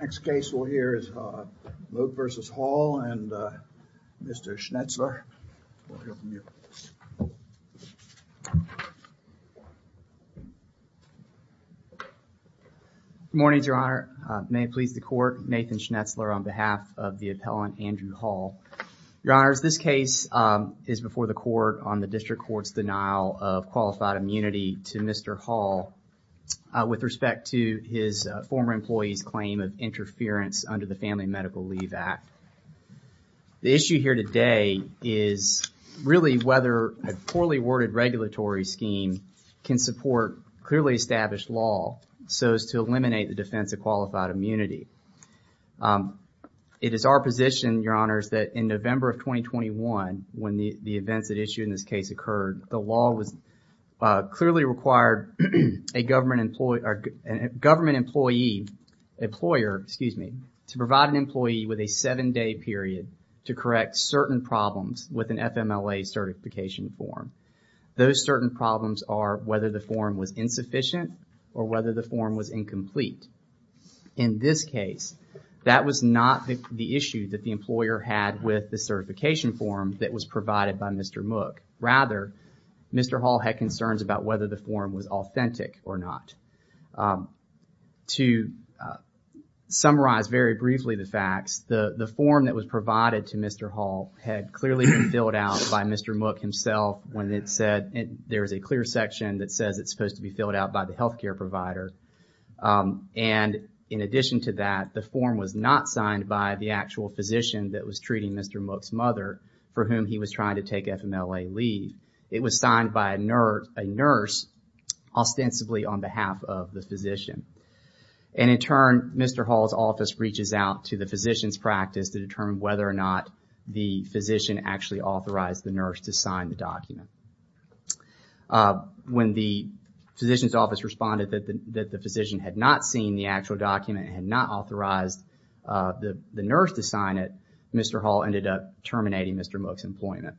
Next case we'll hear is Mook v. Hall and Mr. Schnetzler. Good morning, your honor. May it please the court, Nathan Schnetzler on behalf of the appellant Andrew Hall. Your honors, this case is before the court on the district court's denial of qualified immunity to Mr. Hall with respect to his former employee's claim of interference under the Family Medical Leave Act. The issue here today is really whether a poorly worded regulatory scheme can support clearly established law so as to eliminate the defense of qualified immunity. It is our position, your honors, that in November of 2021, when the events that issue in this case occurred, the law was clearly required a government employee, a government employee, employer, excuse me, to provide an employee with a seven-day period to correct certain problems with an FMLA certification form. Those certain problems are whether the form was insufficient or whether the form was incomplete. In this case, that was not the issue that the rather Mr. Hall had concerns about whether the form was authentic or not. To summarize very briefly the facts, the the form that was provided to Mr. Hall had clearly been filled out by Mr. Mook himself when it said there is a clear section that says it's supposed to be filled out by the health care provider and in addition to that the form was not signed by the actual physician that was treating Mr. Mook's mother for whom he was trying to take FMLA leave. It was signed by a nurse ostensibly on behalf of the physician and in turn Mr. Hall's office reaches out to the physician's practice to determine whether or not the physician actually authorized the nurse to sign the document. When the physician's office responded that the physician had not seen the actual document, had not authorized the the nurse to sign it, Mr. Hall ended up terminating Mr. Mook's employment.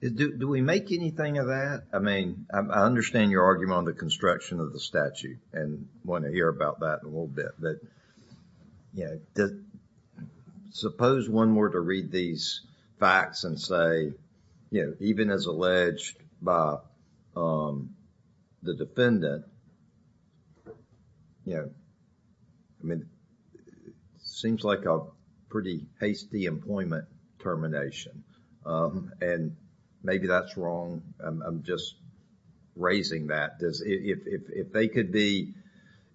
Do we make anything of that? I mean, I understand your argument on the construction of the statute and want to hear about that in a little bit but, you know, suppose one were to read these facts and say, you know, even as alleged by, um, the defendant, you know, I mean, it seems like a pretty hasty employment termination, um, and maybe that's wrong. I'm, I'm just raising that because if, if, if they could be,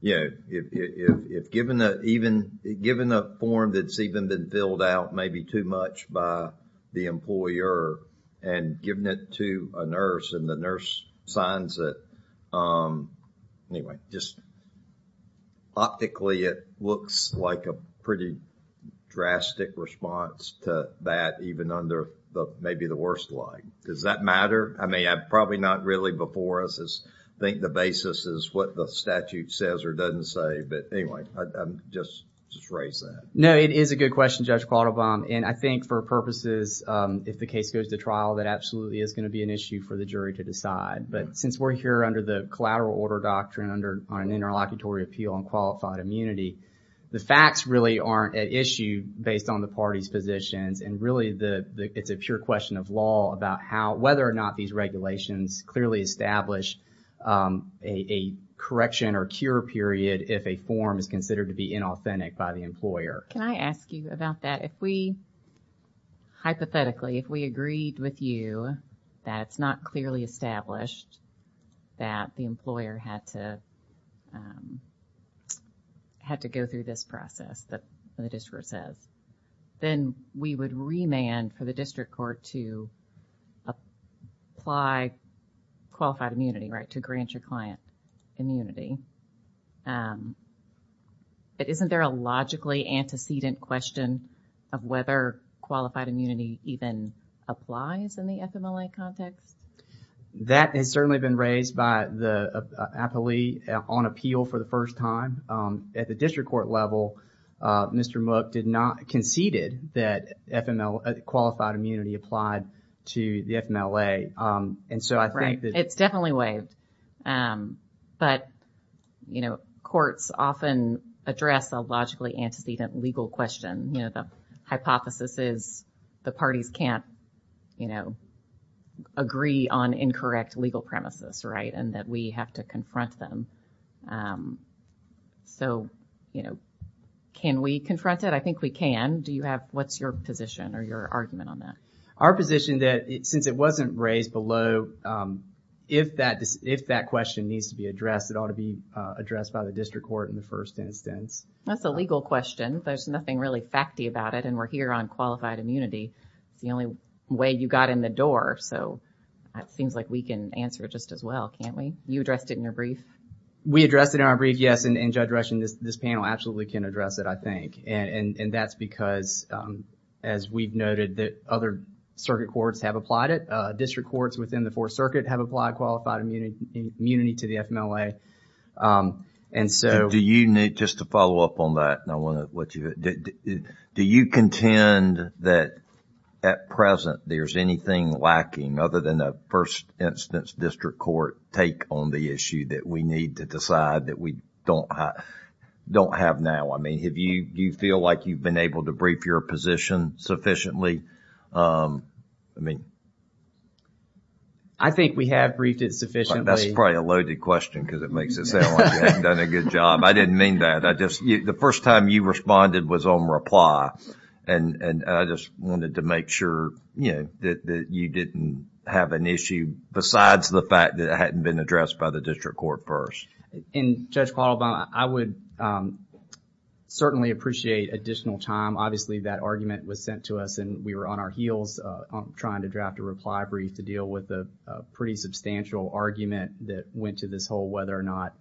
you know, if, if, if given a, even given a form that's even been filled out maybe too much by the employer and given it to a nurse and the nurse signs it, um, anyway, just optically it looks like a pretty drastic response to that even under the maybe the worst light. Does that matter? I mean, I'm probably not really before us as I think the basis is what the statute says or doesn't say but anyway, I'm just, just raise that. No, it is a good question, Judge Quattlebaum, and I think for purposes, um, if the case goes to trial that absolutely is going to be an issue for the jury to decide but since we're here under the collateral order doctrine under an interlocutory appeal on qualified immunity, the facts really aren't an issue based on the party's positions and really the, the, it's a pure question of law about how, whether or not these regulations clearly establish, um, a, a correction or cure period if a form is considered to be inauthentic by the employer. Can I ask you about that? If we, hypothetically, if we agreed with you that it's not clearly established that the employer had to, um, had to go through this process that the district court says, then we would remand for the district court to apply qualified immunity, right, to grant your client immunity. Um, but isn't there a logically antecedent question of whether qualified immunity even applies in the FMLA context? That has certainly been raised by the appellee on appeal for the first time. Um, at the district court level, uh, Mr. Mook did not conceded that FML, uh, qualified immunity applied to the FMLA. Um, and so I think that... It's definitely waived. Um, but, you know, courts often address a logically antecedent legal question. You know, the hypothesis is the parties can't, you know, agree on incorrect legal premises, right, and that we have to confront them. Um, so, you know, can we confront it? I think we can. Do you have... What's your position or your argument on that? Our position that since it wasn't raised below, um, if that, if that question needs to be addressed, it ought to be, uh, addressed by the district court in the first instance. That's a legal question. There's nothing really facty about it, and we're here on qualified immunity. It's the only way you got in the door, so it seems like we can answer it just as well, can't we? You addressed it in your brief. We addressed it in our brief, yes, and Judge this panel absolutely can address it, I think, and that's because, um, as we've noted that other circuit courts have applied it. Uh, district courts within the Fourth Circuit have applied qualified immunity to the FMLA. Um, and so... Do you need, just to follow up on that, and I want to let you... Do you contend that at present there's anything lacking other than a first instance district court take on the issue that we need to decide that we don't have, don't have now? I mean, have you, do you feel like you've been able to brief your position sufficiently? Um, I mean... I think we have briefed it sufficiently. That's probably a loaded question because it makes it sound like you haven't done a good job. I didn't mean that. I just, the first time you responded was on reply, and, and I just wanted to make sure, you know, that you didn't have an issue besides the fact that it hadn't been addressed by the district court first. And Judge Quattlebaum, I would, um, certainly appreciate additional time. Obviously, that argument was sent to us and we were on our heels, uh, trying to draft a reply brief to deal with the pretty substantial argument that went to this whole whether or not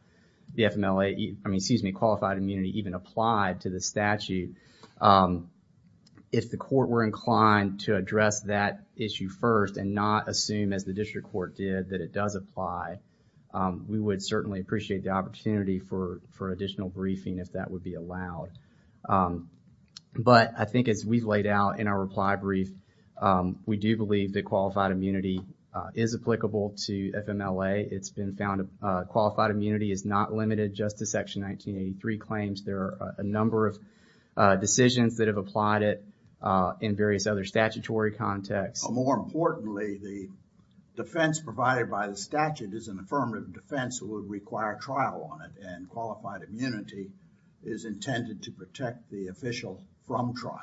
the FMLA, I mean, excuse me, qualified immunity even applied to the statute. Um, if the court were inclined to address that issue first and not assume, as the district court did, that it does apply, um, we would certainly appreciate the opportunity for, for additional briefing if that would be allowed. Um, but I think as we've laid out in our reply brief, um, we do believe that qualified immunity, uh, is applicable to FMLA. It's been found, uh, qualified immunity is not limited just to Section 1983 claims. There are a number of, uh, decisions that have applied it, uh, in various other statutory contexts. More importantly, the defense provided by the statute is an affirmative defense that would require trial on it and qualified immunity is intended to protect the official from trial.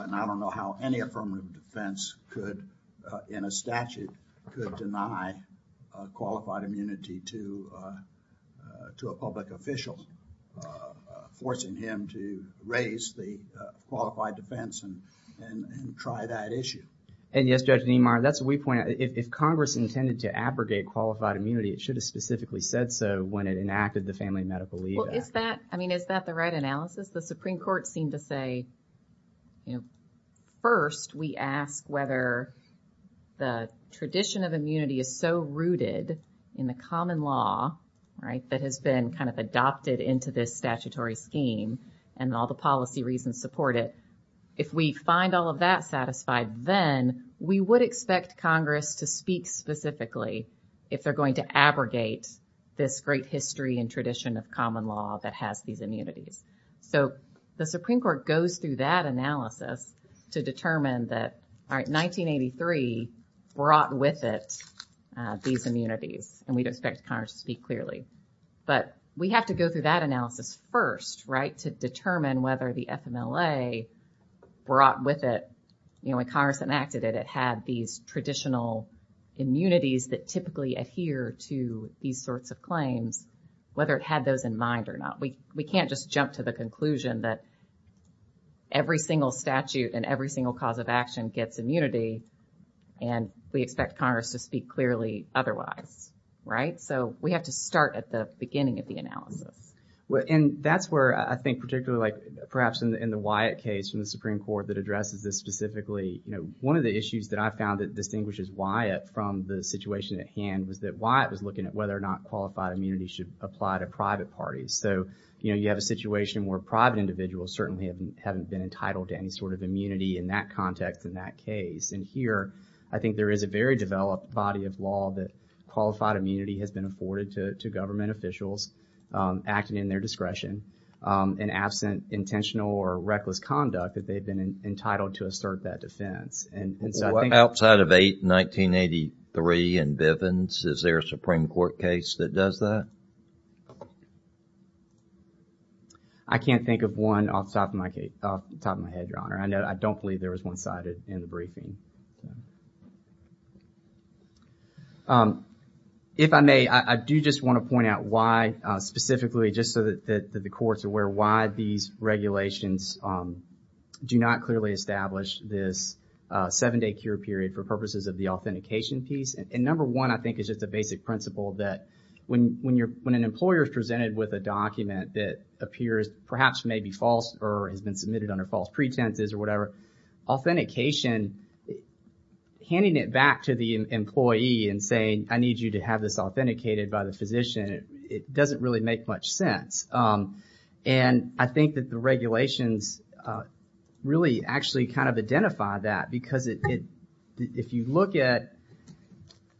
And I don't know how any affirmative defense could, uh, in a statute could deny, uh, qualified immunity to, uh, uh, to a public official, uh, uh, forcing him to raise the, uh, qualified defense and, and, and try that issue. And yes, Judge Niemeyer, that's what we pointed out. If, if Congress intended to abrogate qualified immunity, it should have specifically said so when it enacted the Family Medical Leave Act. Well, is that, I mean, is that the right analysis? The Supreme Court seemed to say, you know, first we ask whether the tradition of immunity is so rooted in the common law, right, that has been kind of adopted into this statutory scheme and all the policy reasons support it. If we find all of that satisfied, then we would expect Congress to speak specifically if they're going to abrogate this great history and tradition of common law that has these immunities. So the Supreme Court goes through that analysis to determine that, all right, 1983 brought with it, uh, these immunities and we'd expect Congress to speak clearly. But we have to go through that analysis first, right, to determine whether the FMLA brought with it, you know, when Congress enacted it, it had these traditional immunities that typically adhere to these sorts of claims, whether it had those in mind or not. We, we can't just jump to the conclusion that every single statute and every single cause of action gets immunity and we expect Congress to speak clearly otherwise, right? So we have to start at the beginning of the analysis. Well, and that's where I think particularly like perhaps in the Wyatt case from the Supreme Court that addresses this specifically, you know, one of the issues that I found that distinguishes Wyatt from the situation at hand was that Wyatt was looking at whether or not qualified immunity should apply to private parties. So, you know, you have a situation where private individuals certainly haven't been entitled to any sort of immunity in that context, in that case. And here, I think there is a very developed body of law that qualified immunity has been afforded to, to government officials, um, acting in their discretion, um, and absent intentional or reckless conduct that they've been entitled to assert that defense. And so I think... Outside of 8, 1983 and Bivens, is there a Supreme Court case that does that? I can't think of one off the top of my head, your honor. I know, I don't believe there was one-sided in the briefing. Um, if I may, I do just want to point out why, uh, specifically just so that the courts are aware why these regulations, um, do not clearly establish this, uh, seven-day cure period for purposes of the authentication piece. And number one, I think is just a basic principle that when, when you're, when an employer is presented with a document that appears perhaps maybe false or has been submitted under false pretenses or whatever, authentication, handing it back to the employee and saying, I need you to have this authenticated by the physician, it doesn't really make much sense. Um, and I think that the regulations, uh, really actually kind of identify that because it, it, if you look at,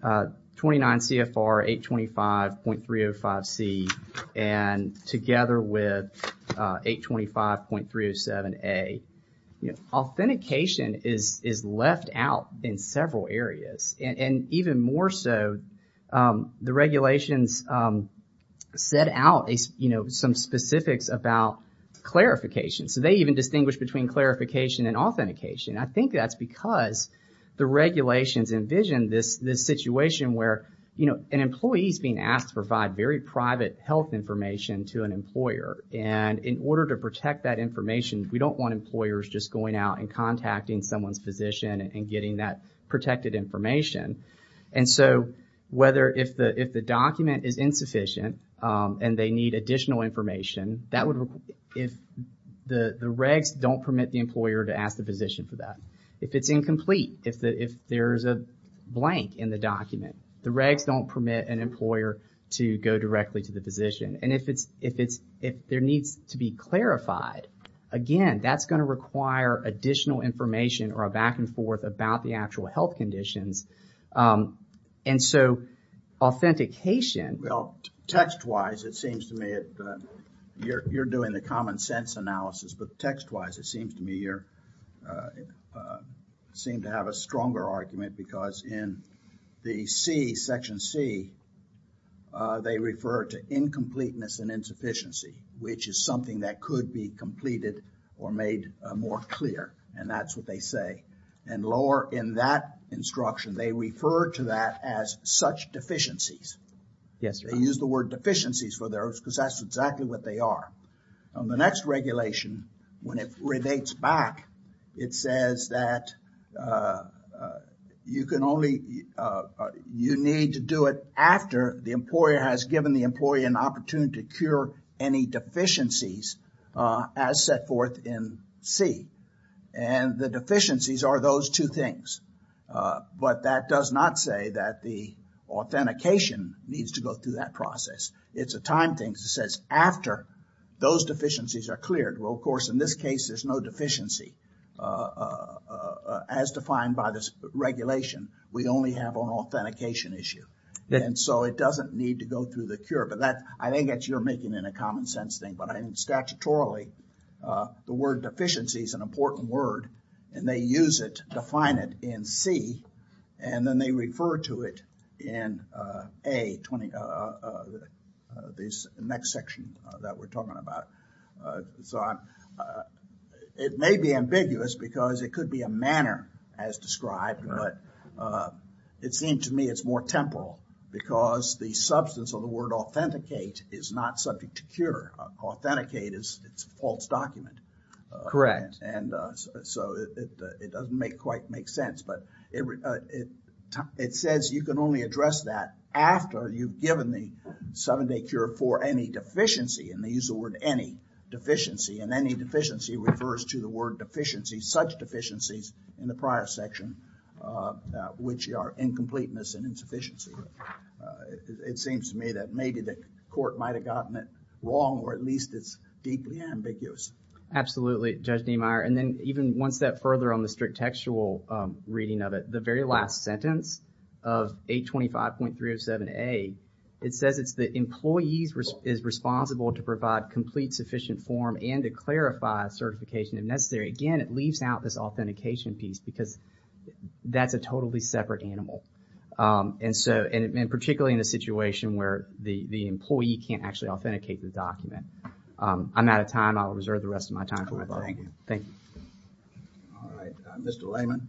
uh, 29 CFR 825.305C and together with, uh, 825.307A, you know, authentication is, is left out in several areas and, and even more so, um, the regulations, um, set out, you know, some specifics about clarification. So they even distinguish between clarification and authentication. I think that's because the regulations envision this, this situation where, you know, an employee is being asked to provide very private health information to an employer. And in order to protect that information, we don't want employers just going out and contacting someone's physician and getting that protected information. And so whether, if the, if the document is insufficient, um, they need additional information that would, if the regs don't permit the employer to ask the physician for that, if it's incomplete, if the, if there's a blank in the document, the regs don't permit an employer to go directly to the physician. And if it's, if it's, if there needs to be clarified, again, that's going to require additional information or a back and forth. Text wise, it seems to me that you're, you're doing the common sense analysis, but text wise, it seems to me you're, uh, uh, seem to have a stronger argument because in the C, section C, uh, they refer to incompleteness and insufficiency, which is something that could be completed or made more clear. And that's what they say. And lower in that instruction, they refer to that as such deficiencies. Yes, sir. They use the word deficiencies for those because that's exactly what they are. On the next regulation, when it relates back, it says that, uh, uh, you can only, uh, uh, you need to do it after the employer has given the employee an opportunity to cure any deficiencies, uh, as set forth in C. And the deficiencies are those two things. Uh, but that does not say that the authentication needs to go through that process. It's a time thing that says after those deficiencies are cleared. Well, of course, in this case, there's no deficiency, uh, uh, uh, as defined by this regulation, we only have an authentication issue. And so it doesn't need to go through the cure, but that, I think that you're making in a common sense thing, but I mean, statutorily, uh, the word deficiency is an important word and they use it, define it in C and then they refer to it in, uh, a 20, uh, uh, uh, uh, uh, this next section that we're talking about. Uh, so I'm, uh, it may be ambiguous because it could be a manner as described, but, uh, it seemed to me it's more temporal because the substance of the word authenticate is not subject to cure. Authenticate is, it's a false document. Uh, and, uh, so it, uh, it doesn't make quite make sense, but it, uh, it, it says you can only address that after you've given the seven day cure for any deficiency and they use the word any deficiency and any deficiency refers to the word such deficiencies in the prior section, uh, uh, which are incompleteness and insufficiency. It seems to me that maybe the court might've gotten it wrong or at least it's deeply ambiguous. Absolutely, Judge Niemeyer. And then even one step further on the strict textual, um, reading of it, the very last sentence of 825.307A, it says it's the employees is responsible to provide complete sufficient form and to clarify certification if necessary. Again, it leaves out this authentication piece because that's a totally separate animal. Um, and so, and, and particularly in a situation where the, the employee can't actually authenticate the document. Um, I'm out of time. I'll reserve the rest of my time. Thank you. All right. Mr. Layman.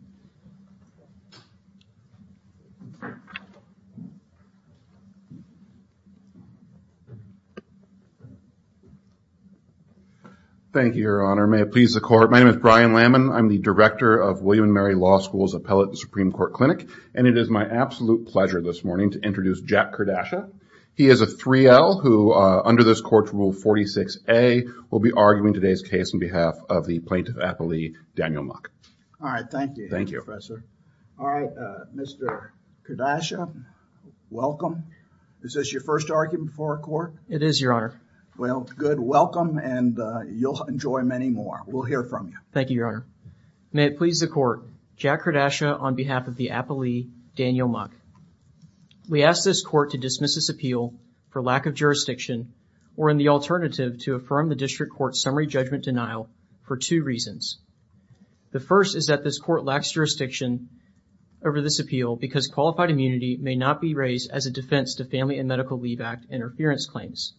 Thank you, Your Honor. May it please the court. My name is Brian Layman. I'm the director of William and Mary Law School's Appellate and Supreme Court Clinic. And it is my absolute pleasure this morning to introduce Jack Kardashia. He is a 3L who, uh, under this court's rule 46A will be arguing today's case on behalf of the plaintiff appellee, Daniel Muck. All right. Thank you. Thank you, Professor. All right. Uh, Mr. Kardashia, welcome. Is this your first argument before a court? It is, Your Honor. Well, good. Welcome. And, uh, you'll enjoy many more. We'll hear from you. Thank you, Your Honor. May it please the court. Jack Kardashia on behalf of the appellee, Daniel Muck. We asked this court to dismiss this appeal for lack of jurisdiction or in the alternative to affirm the district court summary judgment denial for two reasons. The first is that this court lacks jurisdiction over this appeal because qualified immunity may not be raised as a defense to Family and Medical Leave Act interference claims.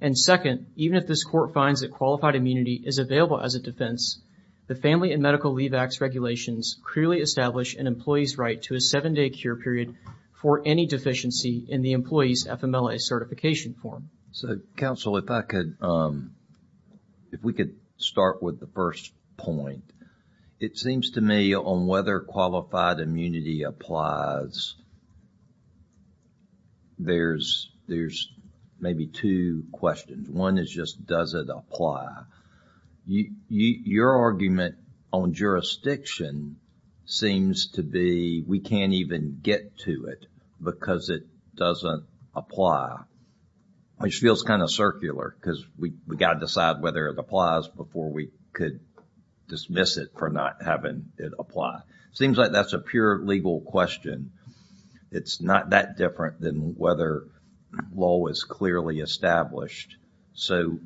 And second, even if this court finds that qualified immunity is available as a defense, the Family and Medical Leave Act's regulations clearly establish an employee's right to a seven-day cure period for any deficiency in the employee's FMLA certification form. So, counsel, if I could, um, if we could start with the first point. It seems to me on whether qualified immunity applies, there's, there's maybe two questions. One is just does it apply? You, you, your argument on jurisdiction seems to be we can't even get to it because it doesn't apply, which feels kind of circular because we, we got to decide whether it applies before we could dismiss it for not having it apply. Seems like that's a pure legal question. It's not that different than whether law is clearly established. So,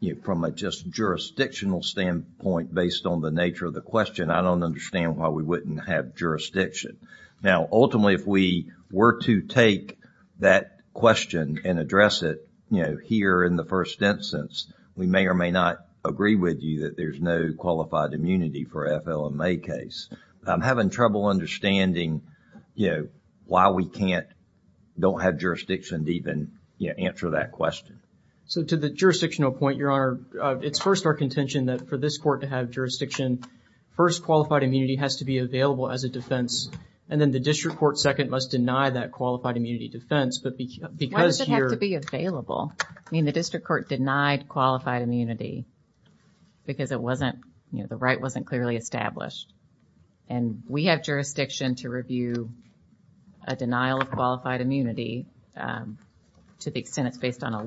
you know, from a just jurisdictional standpoint based on the nature of the question, I don't understand why we wouldn't have jurisdiction. Now, ultimately, if we were to take that question and address it, you know, here in the first instance, we may or may not agree with you that there's no qualified immunity for FLMA case. I'm having trouble understanding, you know, why we can't, don't have jurisdiction to even, you know, answer that question. So, to the jurisdictional point, Your Honor, it's first our contention that for this court to have jurisdiction, first qualified immunity has to be available as a defense, and then the district court second must deny that qualified immunity defense, but because... Why does it have to be available? I mean, the district court denied qualified immunity because it wasn't, you know, the right wasn't clearly established, and we have jurisdiction to review a denial of qualified immunity to the extent it's based on a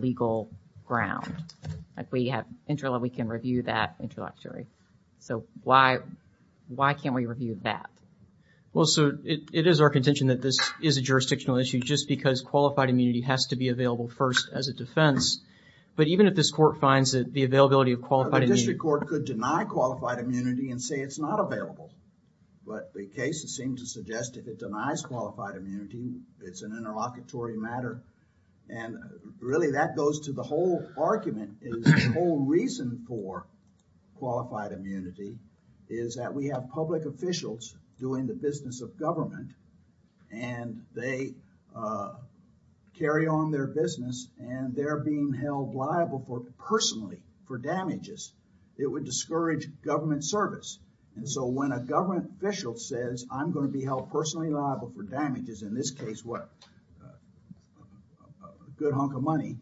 Well, so, it is our contention that this is a jurisdictional issue just because qualified immunity has to be available first as a defense, but even if this court finds that the availability of qualified immunity... The district court could deny qualified immunity and say it's not available, but the cases seem to suggest if it denies qualified immunity, it's an interlocutory matter, and really that goes to the whole argument is the whole reason for qualified immunity is that we have public officials doing the business of government, and they, uh, carry on their business, and they're being held liable for personally for damages. It would discourage government service, and so when a government official says I'm going to be held personally liable for damages, in this case, what, a good hunk of money,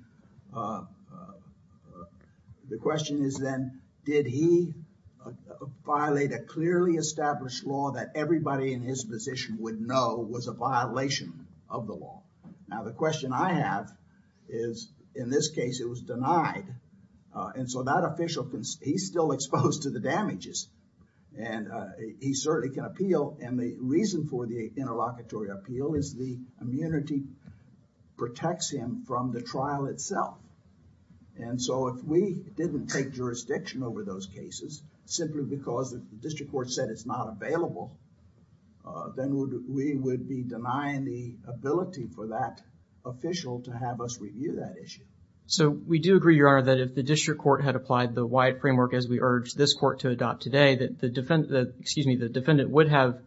uh, uh, the question is then did he violate a clearly established law that everybody in his position would know was a violation of the law? Now, the question I have is in this case, it was denied, uh, and so that official, he's still exposed to the damages, and, uh, he certainly can appeal, and the reason for the interlocutory appeal is the immunity protects him from the trial itself, and so if we didn't take jurisdiction over those cases simply because the district court said it's not available, uh, then we would be denying the ability for that official to have us review that issue. So, we do agree, Your Honor, that if the district court had applied the wide framework as we urged this court to adopt today, that the defendant, excuse me, the defendant would have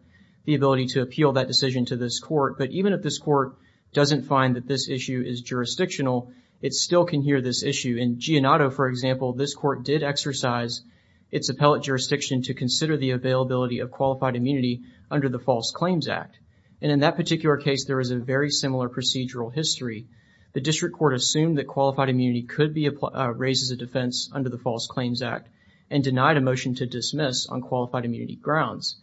the ability to appeal that decision to this court, but even if this court doesn't find that this issue is jurisdictional, it still can hear this issue. In Gianotto, for example, this court did exercise its appellate jurisdiction to consider the availability of qualified immunity under the False Claims Act, and in that particular case, there is a very similar procedural history. The district court assumed that qualified immunity could be, uh, raised as a defense under the False Claims Act and denied a motion to dismiss on qualified immunity grounds.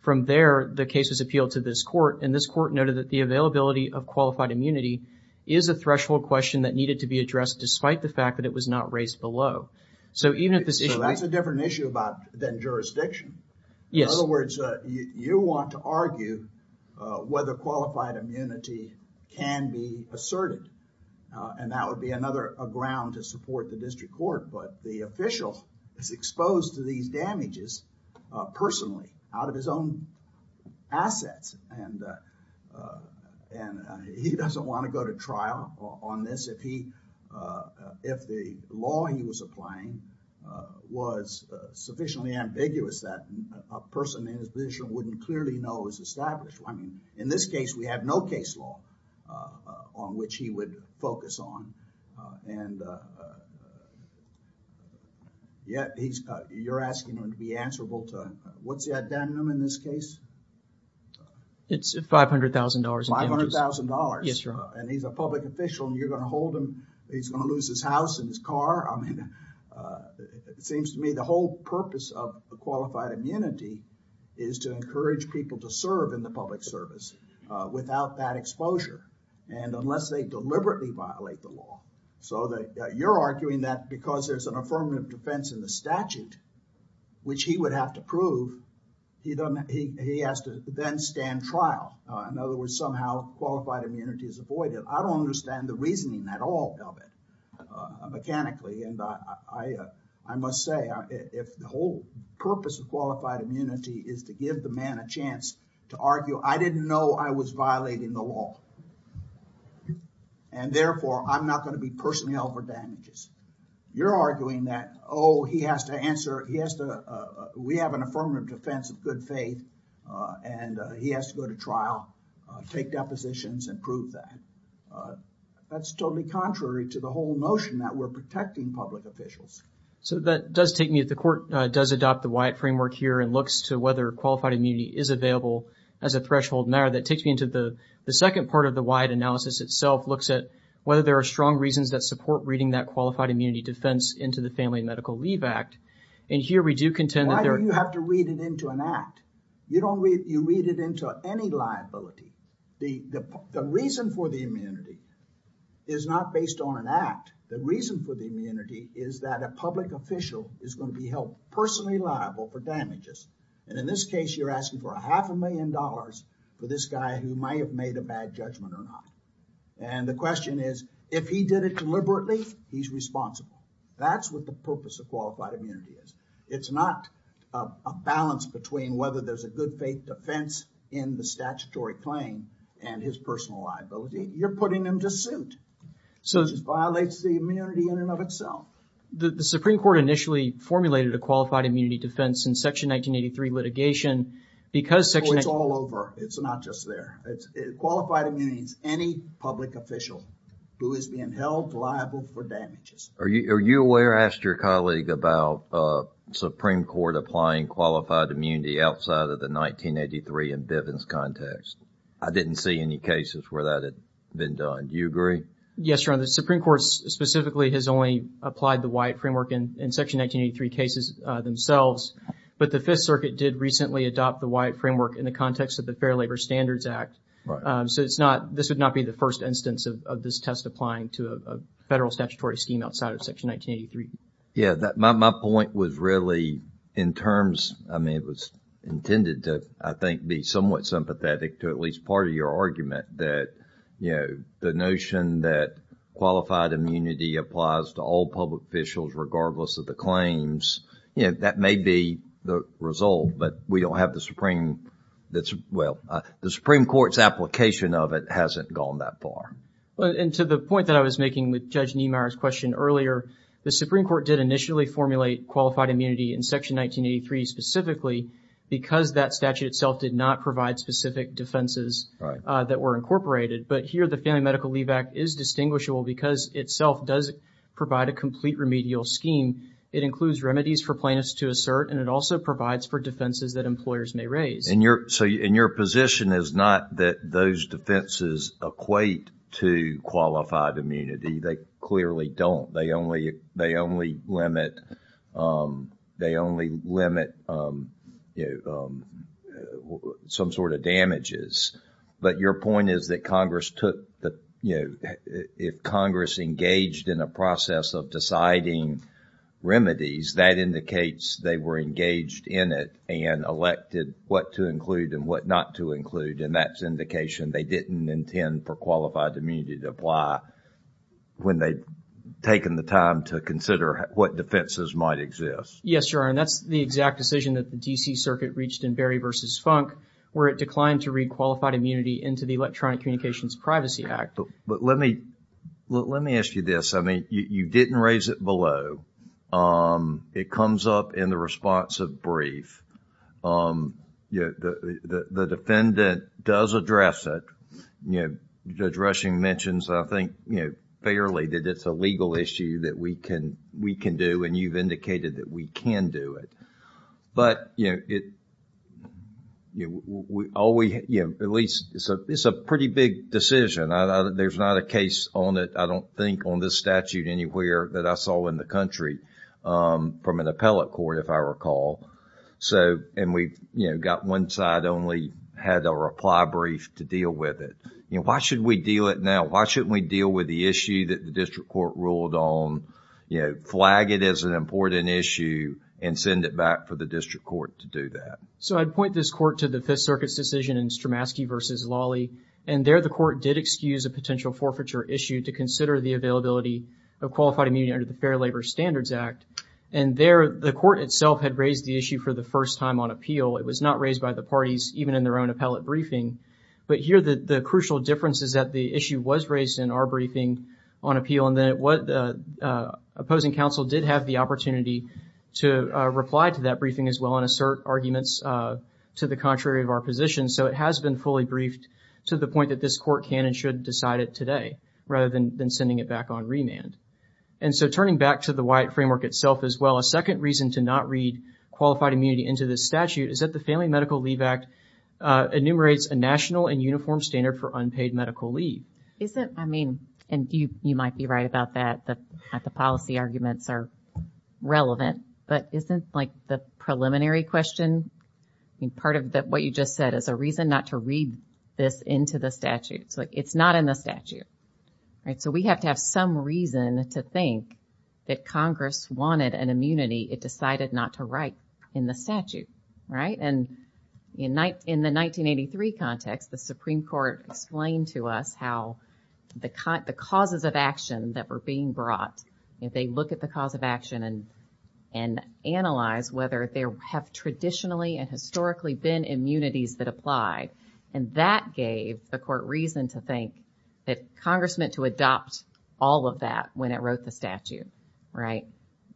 From there, the case was appealed to this court, and this court noted that the availability of qualified immunity is a threshold question that needed to be addressed despite the fact that it was not raised below. So, even if this issue... So, that's a different issue about, than jurisdiction. Yes. In other words, you want to argue, uh, whether qualified immunity can be asserted, and that would be another, a ground to support the district court, but the official is exposed to these damages, uh, personally, out of his own assets, and, uh, uh, and, uh, he doesn't want to go to trial on this if he, uh, uh, if the law he was applying, uh, was, uh, sufficiently ambiguous that a person in his position wouldn't clearly know it was established. I mean, in this case, we have no case law, uh, uh, on which he would focus on, uh, and, uh, uh, yet he's, uh, you're asking him to be answerable to, uh, what's the addendum in this case? It's $500,000 in damages. $500,000. Yes, Your Honor. And he's a public official, and you're going to hold him, he's going to lose his house and his car. I mean, uh, it seems to me the whole purpose of qualified immunity is to encourage people to serve in the public service, uh, without that exposure, and unless they deliberately violate the law. So that, uh, you're arguing that because there's an affirmative defense in the statute, which he would have to prove, he doesn't, he, he has to then stand trial. Uh, in other words, somehow qualified immunity is avoided. I don't understand the reasoning at all of it, uh, mechanically, and I, I, uh, I must say if the whole purpose of qualified immunity is to give the man a chance to argue, I didn't know I was violating the law. And therefore, I'm not going to be personally held for damages. You're arguing that, oh, he has to answer, he has to, uh, we have an affirmative defense of good faith, uh, and, uh, he has to go to trial, uh, take depositions and prove that. Uh, that's totally contrary to the whole notion that we're protecting public officials. So that does take me to the court, uh, does adopt the Wyatt framework here and looks to whether qualified immunity is available as a threshold matter. That takes me into the, the second part of the Wyatt analysis itself looks at whether there are strong reasons that support reading that qualified immunity defense into the Family Medical Leave Act. And here we do contend that there... Why do you have to read it into an act? You don't read, you read it into any liability. The, the, the reason for the immunity is not based on an act. The reason for the immunity is that a public official is going to be held personally liable for damages. And in this case, you're asking for a half a million dollars for this guy who might have made a bad judgment or not. And the question is, if he did it deliberately, he's responsible. That's what the purpose of qualified immunity is. It's not a, a balance between whether there's a good faith defense in the statutory claim and his personal liability. You're putting him to suit. So... Which violates the immunity in and of itself. The Supreme Court initially formulated a qualified immunity defense in Section 1983 litigation because Section... It's all over. It's not just there. Qualified immunity is any public official who is being held liable for damages. Are you, are you aware, I asked your colleague about the Supreme Court applying qualified immunity outside of the 1983 in Bivens context. I didn't see any cases where that had been done. Do you agree? Yes, Your Honor. The Supreme Court specifically has only applied the Wyatt framework in Section 1983 cases themselves. But the Fifth Circuit did recently adopt the Wyatt framework in the context of the Fair Labor Standards Act. Right. So it's not, this would not be the first instance of this test applying to a federal statutory scheme outside of Section 1983. Yeah. My point was really in terms, I mean, it was intended to, I think, be somewhat sympathetic to at least part of your argument that, you know, the notion that qualified immunity applies to all public officials regardless of the claims. You know, that may be the result, but we don't have the Supreme, that's, well, the Supreme Court's application of it hasn't gone that far. And to the point that I was making with Judge Niemeyer's question earlier, the Supreme Court did initially formulate qualified immunity in Section 1983 specifically because that statute itself did not provide specific defenses that were incorporated. But here the Family Medical Leave Act is distinguishable because itself does provide a complete remedial scheme. It includes remedies for plaintiffs to assert, and it also provides for defenses that employers may raise. And your, so, and your position is not that those defenses equate to qualified immunity. They clearly don't. They only, they only limit, they only limit, you know, some sort of damages. But your point is that Congress took the, you know, if Congress engaged in a process of deciding remedies, that indicates they were engaged in it and elected what to include and what not to include. And that's indication they didn't intend for qualified immunity to apply when they'd taken the time to consider what defenses might exist. Yes, Your Honor. And that's the exact decision that the D.C. Circuit reached in Berry v. Funk where it declined to read qualified immunity into the Electronic Communications Privacy Act. But let me, let me ask you this. I mean, you didn't raise it below. It comes up in the response of brief. Um, you know, the defendant does address it. You know, Judge Rushing mentions, I think, you know, fairly that it's a legal issue that we can, we can do, and you've indicated that we can do it. But, you know, it, you know, all we, you know, at least, it's a pretty big decision. There's not a case on it, I don't think, on this statute anywhere that I saw in the country from an appellate court, if I recall. So, and we've, you know, got one side only had a reply brief to deal with it. You know, why should we deal it now? Why shouldn't we deal with the issue that the district court ruled on? You know, flag it as an important issue and send it back for the district court to do that. So, I'd point this court to the Fifth Circuit's decision in Stramaski v. Lawley. And there the court did excuse a potential forfeiture issue to consider the availability of qualified immunity under the Fair Labor Standards Act. And there the court itself had raised the issue for the first time on appeal. It was not raised by the parties, even in their own appellate briefing. But here the crucial difference is that the issue was raised in our briefing on appeal. And then what the opposing counsel did have the opportunity to reply to that briefing as well and assert arguments to the contrary of our position. So, it has been fully briefed to the point that this court can and should decide it today, rather than sending it back on remand. And so, turning back to the WIAT framework itself as well, a second reason to not read qualified immunity into the statute is that the Family Medical Leave Act enumerates a national and uniform standard for unpaid medical leave. Isn't, I mean, and you might be right about that, that the policy arguments are relevant. But isn't like the preliminary question, I mean, part of what you just said is a reason not to read this into the statute. So, it's not in the statute, right? We have to have some reason to think that Congress wanted an immunity, it decided not to write in the statute, right? And in the 1983 context, the Supreme Court explained to us how the causes of action that were being brought, if they look at the cause of action and analyze whether there have traditionally and historically been immunities that applied, and that gave the court reason to think that Congress meant to adopt all of that when it wrote the statute, right?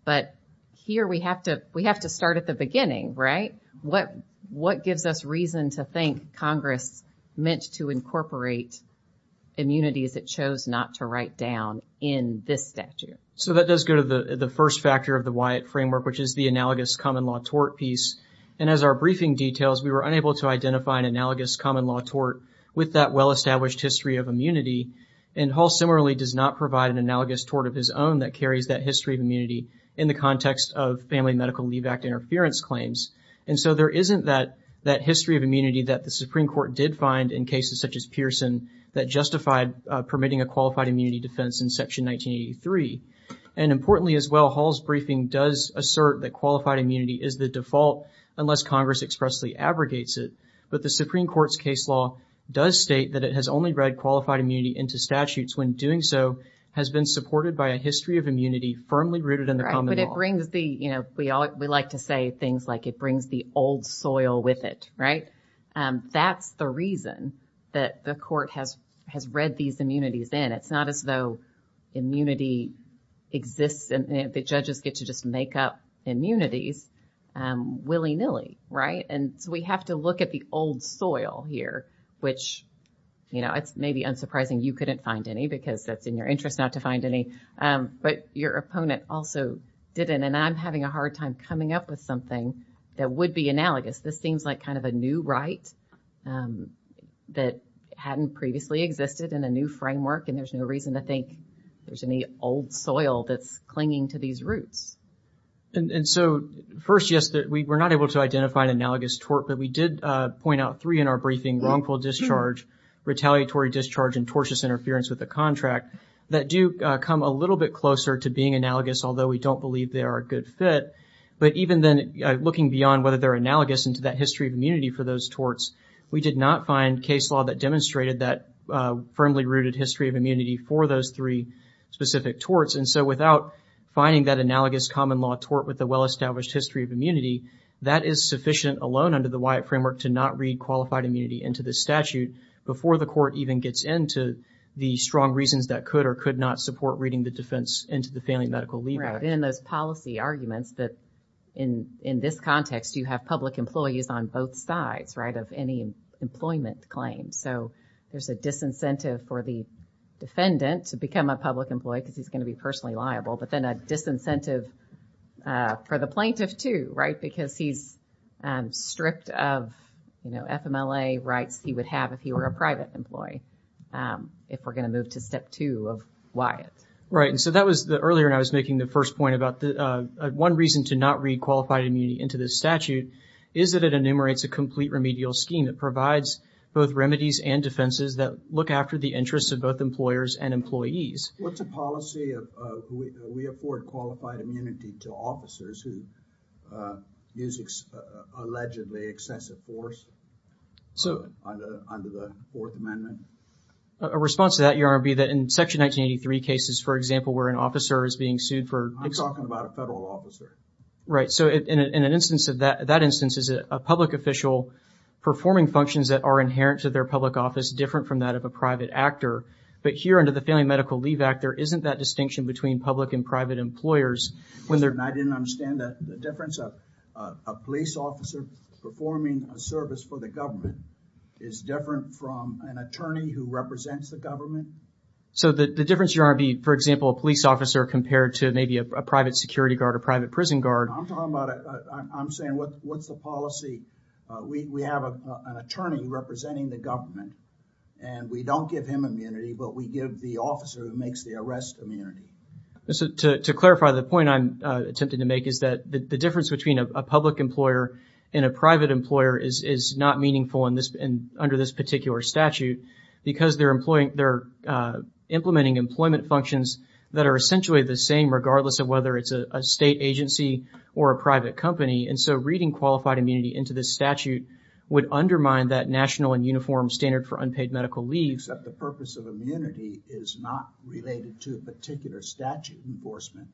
But here we have to, we have to start at the beginning, right? What, what gives us reason to think Congress meant to incorporate immunities it chose not to write down in this statute? So, that does go to the first factor of the WIAT framework, which is the analogous common law tort piece. And as our briefing details, we were unable to identify an analogous common law tort with that well-established history of immunity, and Hall similarly does not provide an analogous tort of his own that carries that history of immunity in the context of Family Medical Leave Act interference claims. And so there isn't that, that history of immunity that the Supreme Court did find in cases such as Pearson that justified permitting a qualified immunity defense in Section 1983. And importantly as well, Hall's briefing does assert that qualified immunity is the default unless Congress expressly abrogates it, but the Supreme Court's case law does state that it has only read qualified immunity into statutes when doing so has been supported by a history of immunity firmly rooted in the common law. But it brings the, you know, we all, we like to say things like it brings the old soil with it, right? That's the reason that the Court has, has read these immunities in. It's not as though immunity exists and the judges get to just make up immunities willy-nilly, right? And so we have to look at the old soil here which, you know, it's maybe unsurprising you couldn't find any because that's in your interest not to find any, but your opponent also didn't and I'm having a hard time coming up with something that would be analogous. This seems like kind of a new right that hadn't previously existed in a new framework and there's no reason to think there's any old soil that's clinging to these roots. And so first, yes, that we were not able to identify an analogous tort, but we did point out three in our briefing, wrongful discharge, retaliatory discharge, and tortious interference with the contract that do come a little bit closer to being analogous, although we don't believe they are a good fit. But even then looking beyond whether they're analogous into that history of immunity for those torts, we did not find case law that demonstrated that firmly rooted history of immunity for those three specific torts. And so without finding that analogous common law tort with a well-established history of immunity, that is sufficient alone under the Wyatt framework to not read qualified immunity into the statute before the court even gets into the strong reasons that could or could not support reading the defense into the failing medical leaver. Right. And those policy arguments that in this context, you have public employees on both sides, right, of any employment claims. So there's a disincentive for the defendant to become a public employee because he's going to be personally liable, but then a disincentive for the plaintiff too, right? Because he's stripped of, you know, FMLA rights he would have if he were a private employee. If we're going to move to step two of Wyatt. Right. And so that was the earlier and I was making the first point about the one reason to not read qualified immunity into the statute is that it enumerates a complete remedial scheme that provides both remedies and defenses that look after the interests of both employers and employees. What's a policy of we afford qualified immunity to officers who use allegedly excessive force under the Fourth Amendment? A response to that, Your Honor, would be that in section 1983 cases, for example, where an officer is being sued for... I'm talking about a federal officer. Right. So in an instance of that, that instance is a public official performing functions that are inherent to their public office, different from that of a private actor. But here under the Family Medical Leave Act, there isn't that distinction between public and private employers when they're... I didn't understand that. The difference of a police officer performing a service for the government is different from an attorney who represents the government. So the difference, Your Honor, would be, for example, a police officer compared to maybe a private security guard or private prison guard... I'm talking about... I'm saying what's the policy? We have an attorney representing the government and we don't give him immunity, but we give the officer who makes the arrest immunity. To clarify, the point I'm attempting to make is that the difference between a public employer and a private employer is not meaningful under this particular statute because they're implementing employment functions that are essentially the same regardless of whether it's a state agency or a private company. And so reading qualified immunity into this statute would undermine that national and uniform standard for unpaid medical leave. Except the purpose of immunity is not related to a particular statute enforcement.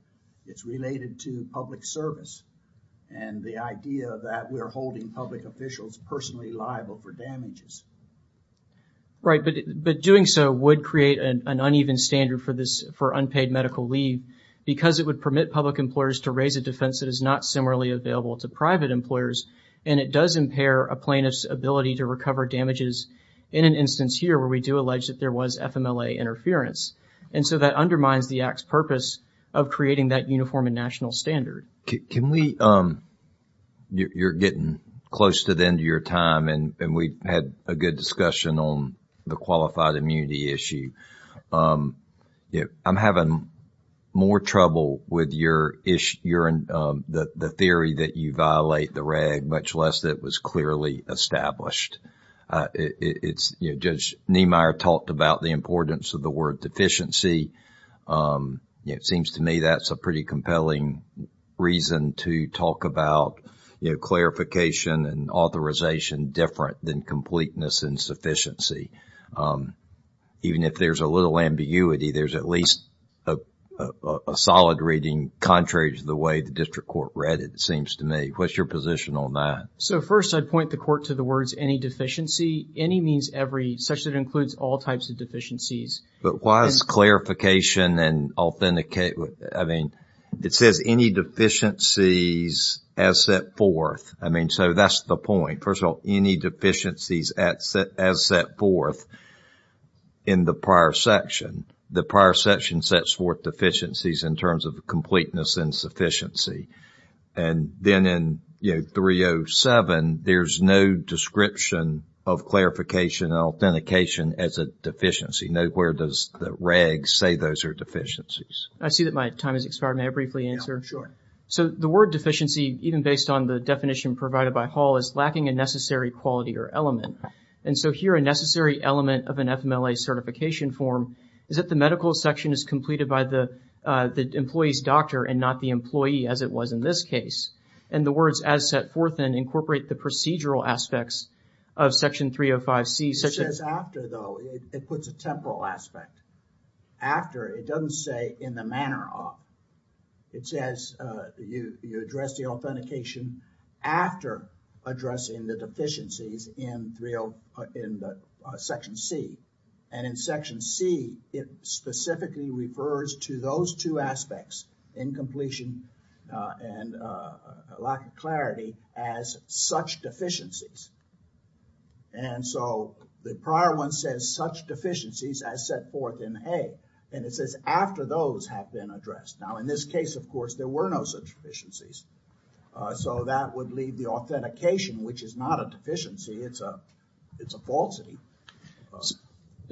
It's related to public service and the idea that we're holding public officials personally liable for damages. Right. But doing so would create an uneven standard for this, because it would permit public employers to raise a defense that is not similarly available to private employers. And it does impair a plaintiff's ability to recover damages in an instance here where we do allege that there was FMLA interference. And so that undermines the Act's purpose of creating that uniform and national standard. Can we... You're getting close to the end of your time and we had a good discussion on the qualified immunity issue. I'm having more trouble with the theory that you violate the RAG, much less that it was clearly established. Judge Niemeyer talked about the importance of the word deficiency. It seems to me that's a pretty compelling reason to talk about clarification and authorization different than completeness and sufficiency. Even if there's a little ambiguity, there's at least a solid reading contrary to the way the district court read it, it seems to me. What's your position on that? So first, I'd point the court to the words any deficiency. Any means every, such that it includes all types of deficiencies. But why is clarification and authentication... I mean, it says any deficiencies as set forth. I mean, so that's the point. First of all, any deficiencies as set forth in the prior section, the prior section sets forth deficiencies in terms of completeness and sufficiency. And then in, you know, 307, there's no description of clarification and authentication as a deficiency. Nowhere does the RAG say those are deficiencies. I see that my time has expired. May I briefly answer? Sure. So the word deficiency, even based on the definition provided by Hall, is lacking a necessary quality or element. And so here a necessary element of an FMLA certification form is that the medical section is completed by the employee's doctor and not the employee, as it was in this case. And the words as set forth then incorporate the procedural aspects of section 305C. It says after though, it puts a temporal aspect. After, it doesn't say in the manner of. It says you address the authentication after addressing the deficiencies in section C. And in section C, it specifically refers to those two aspects, incompletion and lack of clarity as such deficiencies. And so the prior one says such deficiencies as set forth in A. And it says after those have been addressed. Now, in this case, of course, there were no such deficiencies. So that would leave the authentication, which is not a deficiency. It's a, it's a falsity.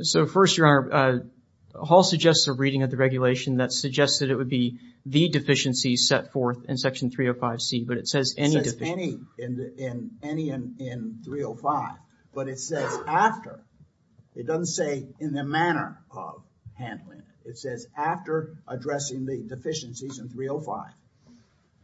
So first, your honor, Hall suggests a reading of the regulation that suggests that it would be the deficiencies set forth in section 305C, but it says any deficiency. Any in 305, but it says after. It doesn't say in the manner of handling it. It says after addressing the deficiencies in 305.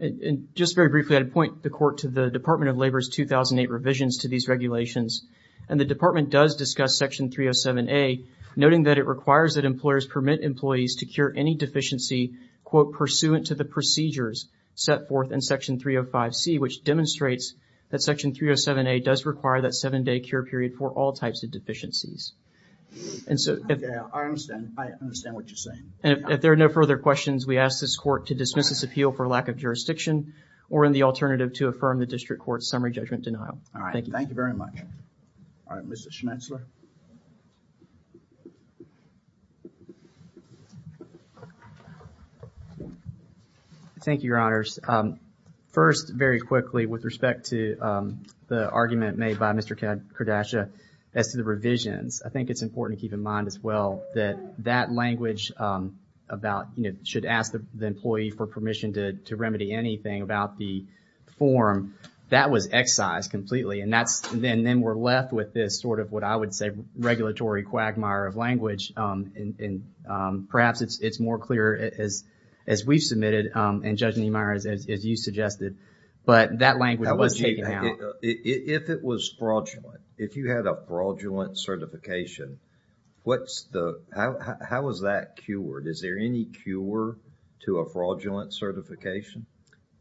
And just very briefly, I'd point the court to the Department of Labor's 2008 revisions to these regulations. And the department does discuss section 307A, noting that it requires that employers permit employees to cure any deficiency, quote, pursuant to the procedures set forth in section 305C, which demonstrates that section 307A does require that seven-day cure period for all types of deficiencies. And so. Okay, I understand. I understand what you're saying. And if there are no further questions, we ask this court to dismiss this appeal for lack of jurisdiction or in the alternative to affirm the district court's summary judgment denial. All right. Thank you very much. All right. Mr. Schnetzler. Thank you, your honors. First, very quickly, with respect to the argument made by Mr. Kardashian as to the revisions, I think it's important to keep in mind as well that that language about, you know, should ask the employee for permission to remedy anything about the form that was excised completely. And that's then we're left with this sort of what I would say regulatory quagmire of language. And perhaps it's more clear as we've submitted and Judge Niemeyer, as you suggested, but that language was taken down. If it was fraudulent, if you had a fraudulent certification, what's the, how was that cured? Is there any cure to a fraudulent certification?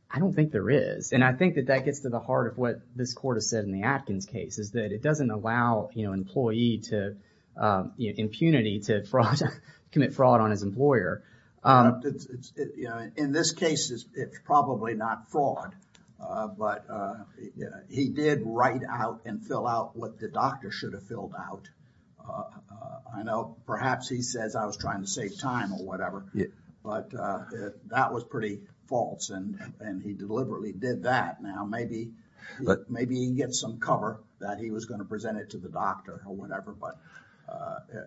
I don't think there is. And I think that that gets to the heart of what this court has said in the Atkins case is that it doesn't allow, you know, employee to, you know, impunity to commit fraud on his employer. In this case, it's probably not fraud, but he did write out and fill out what the doctor should have filled out. I know perhaps he says I was trying to save time or whatever, but that was pretty false and he deliberately did that. Maybe he can get some cover that he was going to present it to the doctor or whatever. But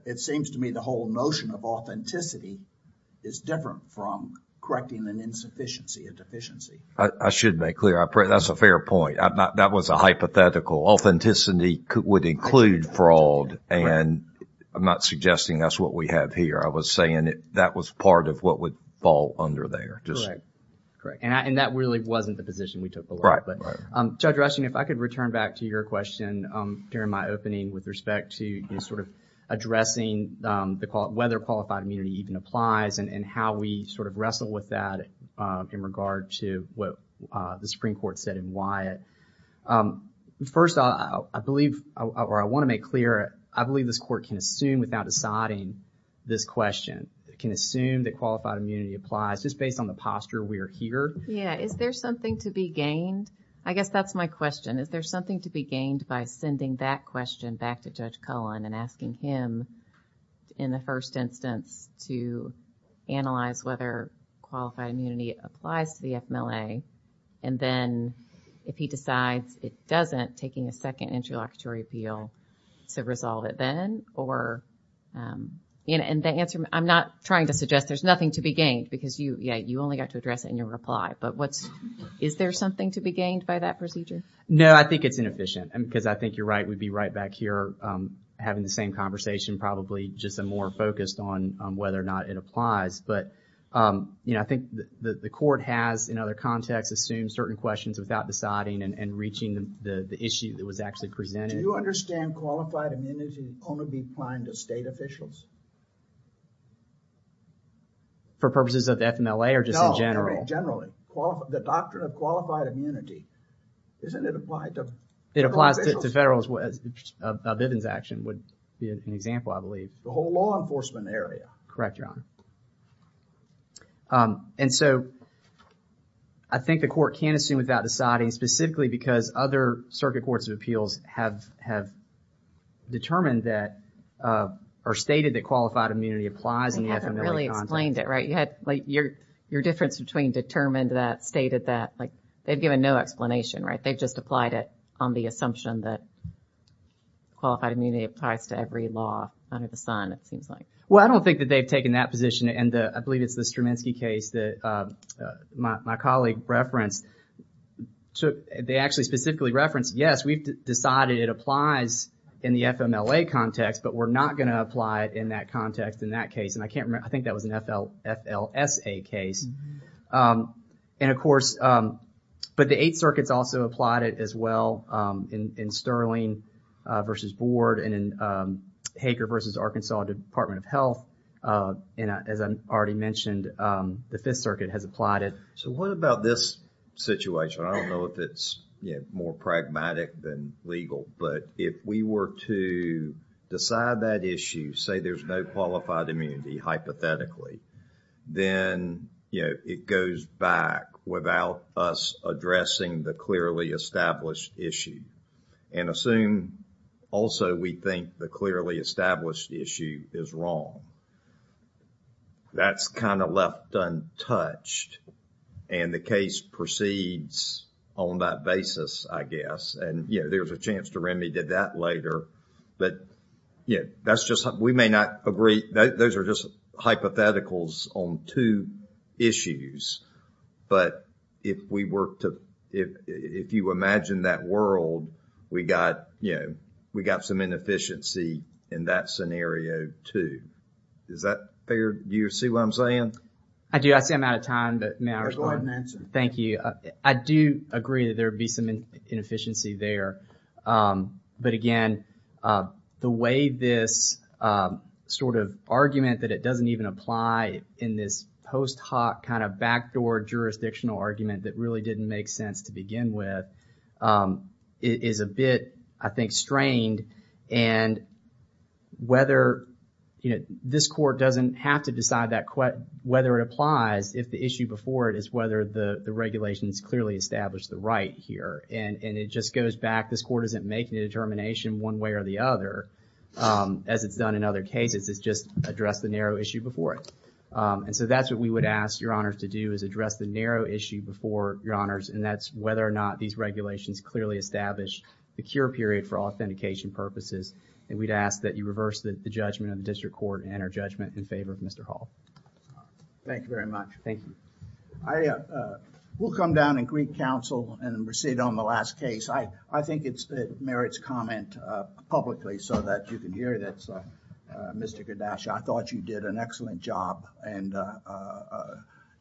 it seems to me the whole notion of authenticity is different from correcting an insufficiency, a deficiency. I should make clear, that's a fair point. That was a hypothetical. Authenticity would include fraud and I'm not suggesting that's what we have here. I was saying that was part of what would fall under there. Correct. And that really wasn't the position we took. Judge Rushing, if I could return back to your question during my opening with respect to, you know, sort of addressing whether qualified immunity even applies and how we sort of wrestle with that in regard to what the Supreme Court said in Wyatt. First, I believe, or I want to make clear, I believe this court can assume without deciding this question. It can assume that qualified immunity applies just based on the posture we are here. Yeah. Is there something to be gained? I guess that's my question. Is there something to be gained by sending that question back to Judge Cullen and asking him in the first instance to analyze whether qualified immunity applies to the FMLA and then if he decides it doesn't, taking a second interlocutory appeal to resolve it then or, you know, and the answer, I'm not trying to suggest there's nothing to be gained because you, yeah, you only got to address it in your reply. But what's, is there something to be gained by that procedure? No, I think it's inefficient because I think you're right. We'd be right back here having the same conversation, probably just a more focused on whether or not it applies. But, you know, I think the court has in other contexts assumed certain questions without deciding and reaching the issue that was actually presented. Do you understand qualified immunity only be applied to state officials? For purposes of FMLA or just in general? No, I mean generally. The doctrine of qualified immunity, isn't it applied to federal officials? It applies to federal as well. Vivian's action would be an example, I believe. The whole law enforcement area. Correct, Your Honor. And so, I think the court can't assume without deciding specifically because other circuit courts of appeals have, have determined that, or stated that qualified immunity applies in the FMLA context. They haven't really explained it, right? You had like your, your difference between determined that, stated that, like they've given no explanation, right? They've just applied it on the assumption that qualified immunity applies to every law under the sun, it seems like. Well, I don't think that they've taken that position and I believe it's the Straminski case that my colleague referenced. So, they actually specifically referenced, yes, we've decided it applies in the FMLA context, but we're not going to apply it in that context, in that case. And I can't remember, I think that was an FL, FLSA case. And of course, but the Eighth Circuit's also applied it as well in Sterling versus Board and in Hager versus Arkansas Department of Health. And as I already mentioned, the Fifth Circuit has applied it. So, what about this situation? I don't know if it's more pragmatic than legal, but if we were to decide that issue, say there's no qualified immunity, hypothetically, then, you know, it goes back without us addressing the clearly established issue. And assume also we think the clearly established issue is wrong. That's kind of left untouched and the case proceeds on that basis, I guess. And, you know, there's a chance to remedy that later. But, you know, that's just, we may not agree. Those are just hypotheticals on two issues. But if we were to, if you imagine that world, we got, you know, we got some inefficiency in that scenario too. Is that fair? Do you see what I'm saying? I do. I see I'm out of time, but may I respond? Thank you. I do agree that there would be some inefficiency there. But again, the way this sort of argument that it doesn't even apply in this post hoc kind of backdoor jurisdictional argument that really didn't make sense to begin with is a bit, I think, strained. And whether, you know, this court doesn't have to decide that whether it applies if the issue before it is whether the regulations clearly established the right here. And it just goes back. This court isn't making a determination one way or the other as it's done in other cases. It's just address the narrow issue before it. And so that's what we would ask your honors to do is address the narrow issue before your honors. And that's whether or not these regulations clearly establish the cure period for authentication purposes. And we'd ask that you reverse the judgment of the district court and our judgment in favor of Mr. Hall. Thank you very much. Thank you. We'll come down and greet counsel and proceed on the last case. I think it's merits comment publicly so that you can hear that. So, Mr. Kardashian, I thought you did an excellent job and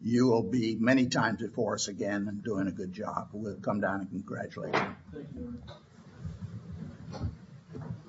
you will be many times before us again and doing a good job. We'll come down and congratulate you.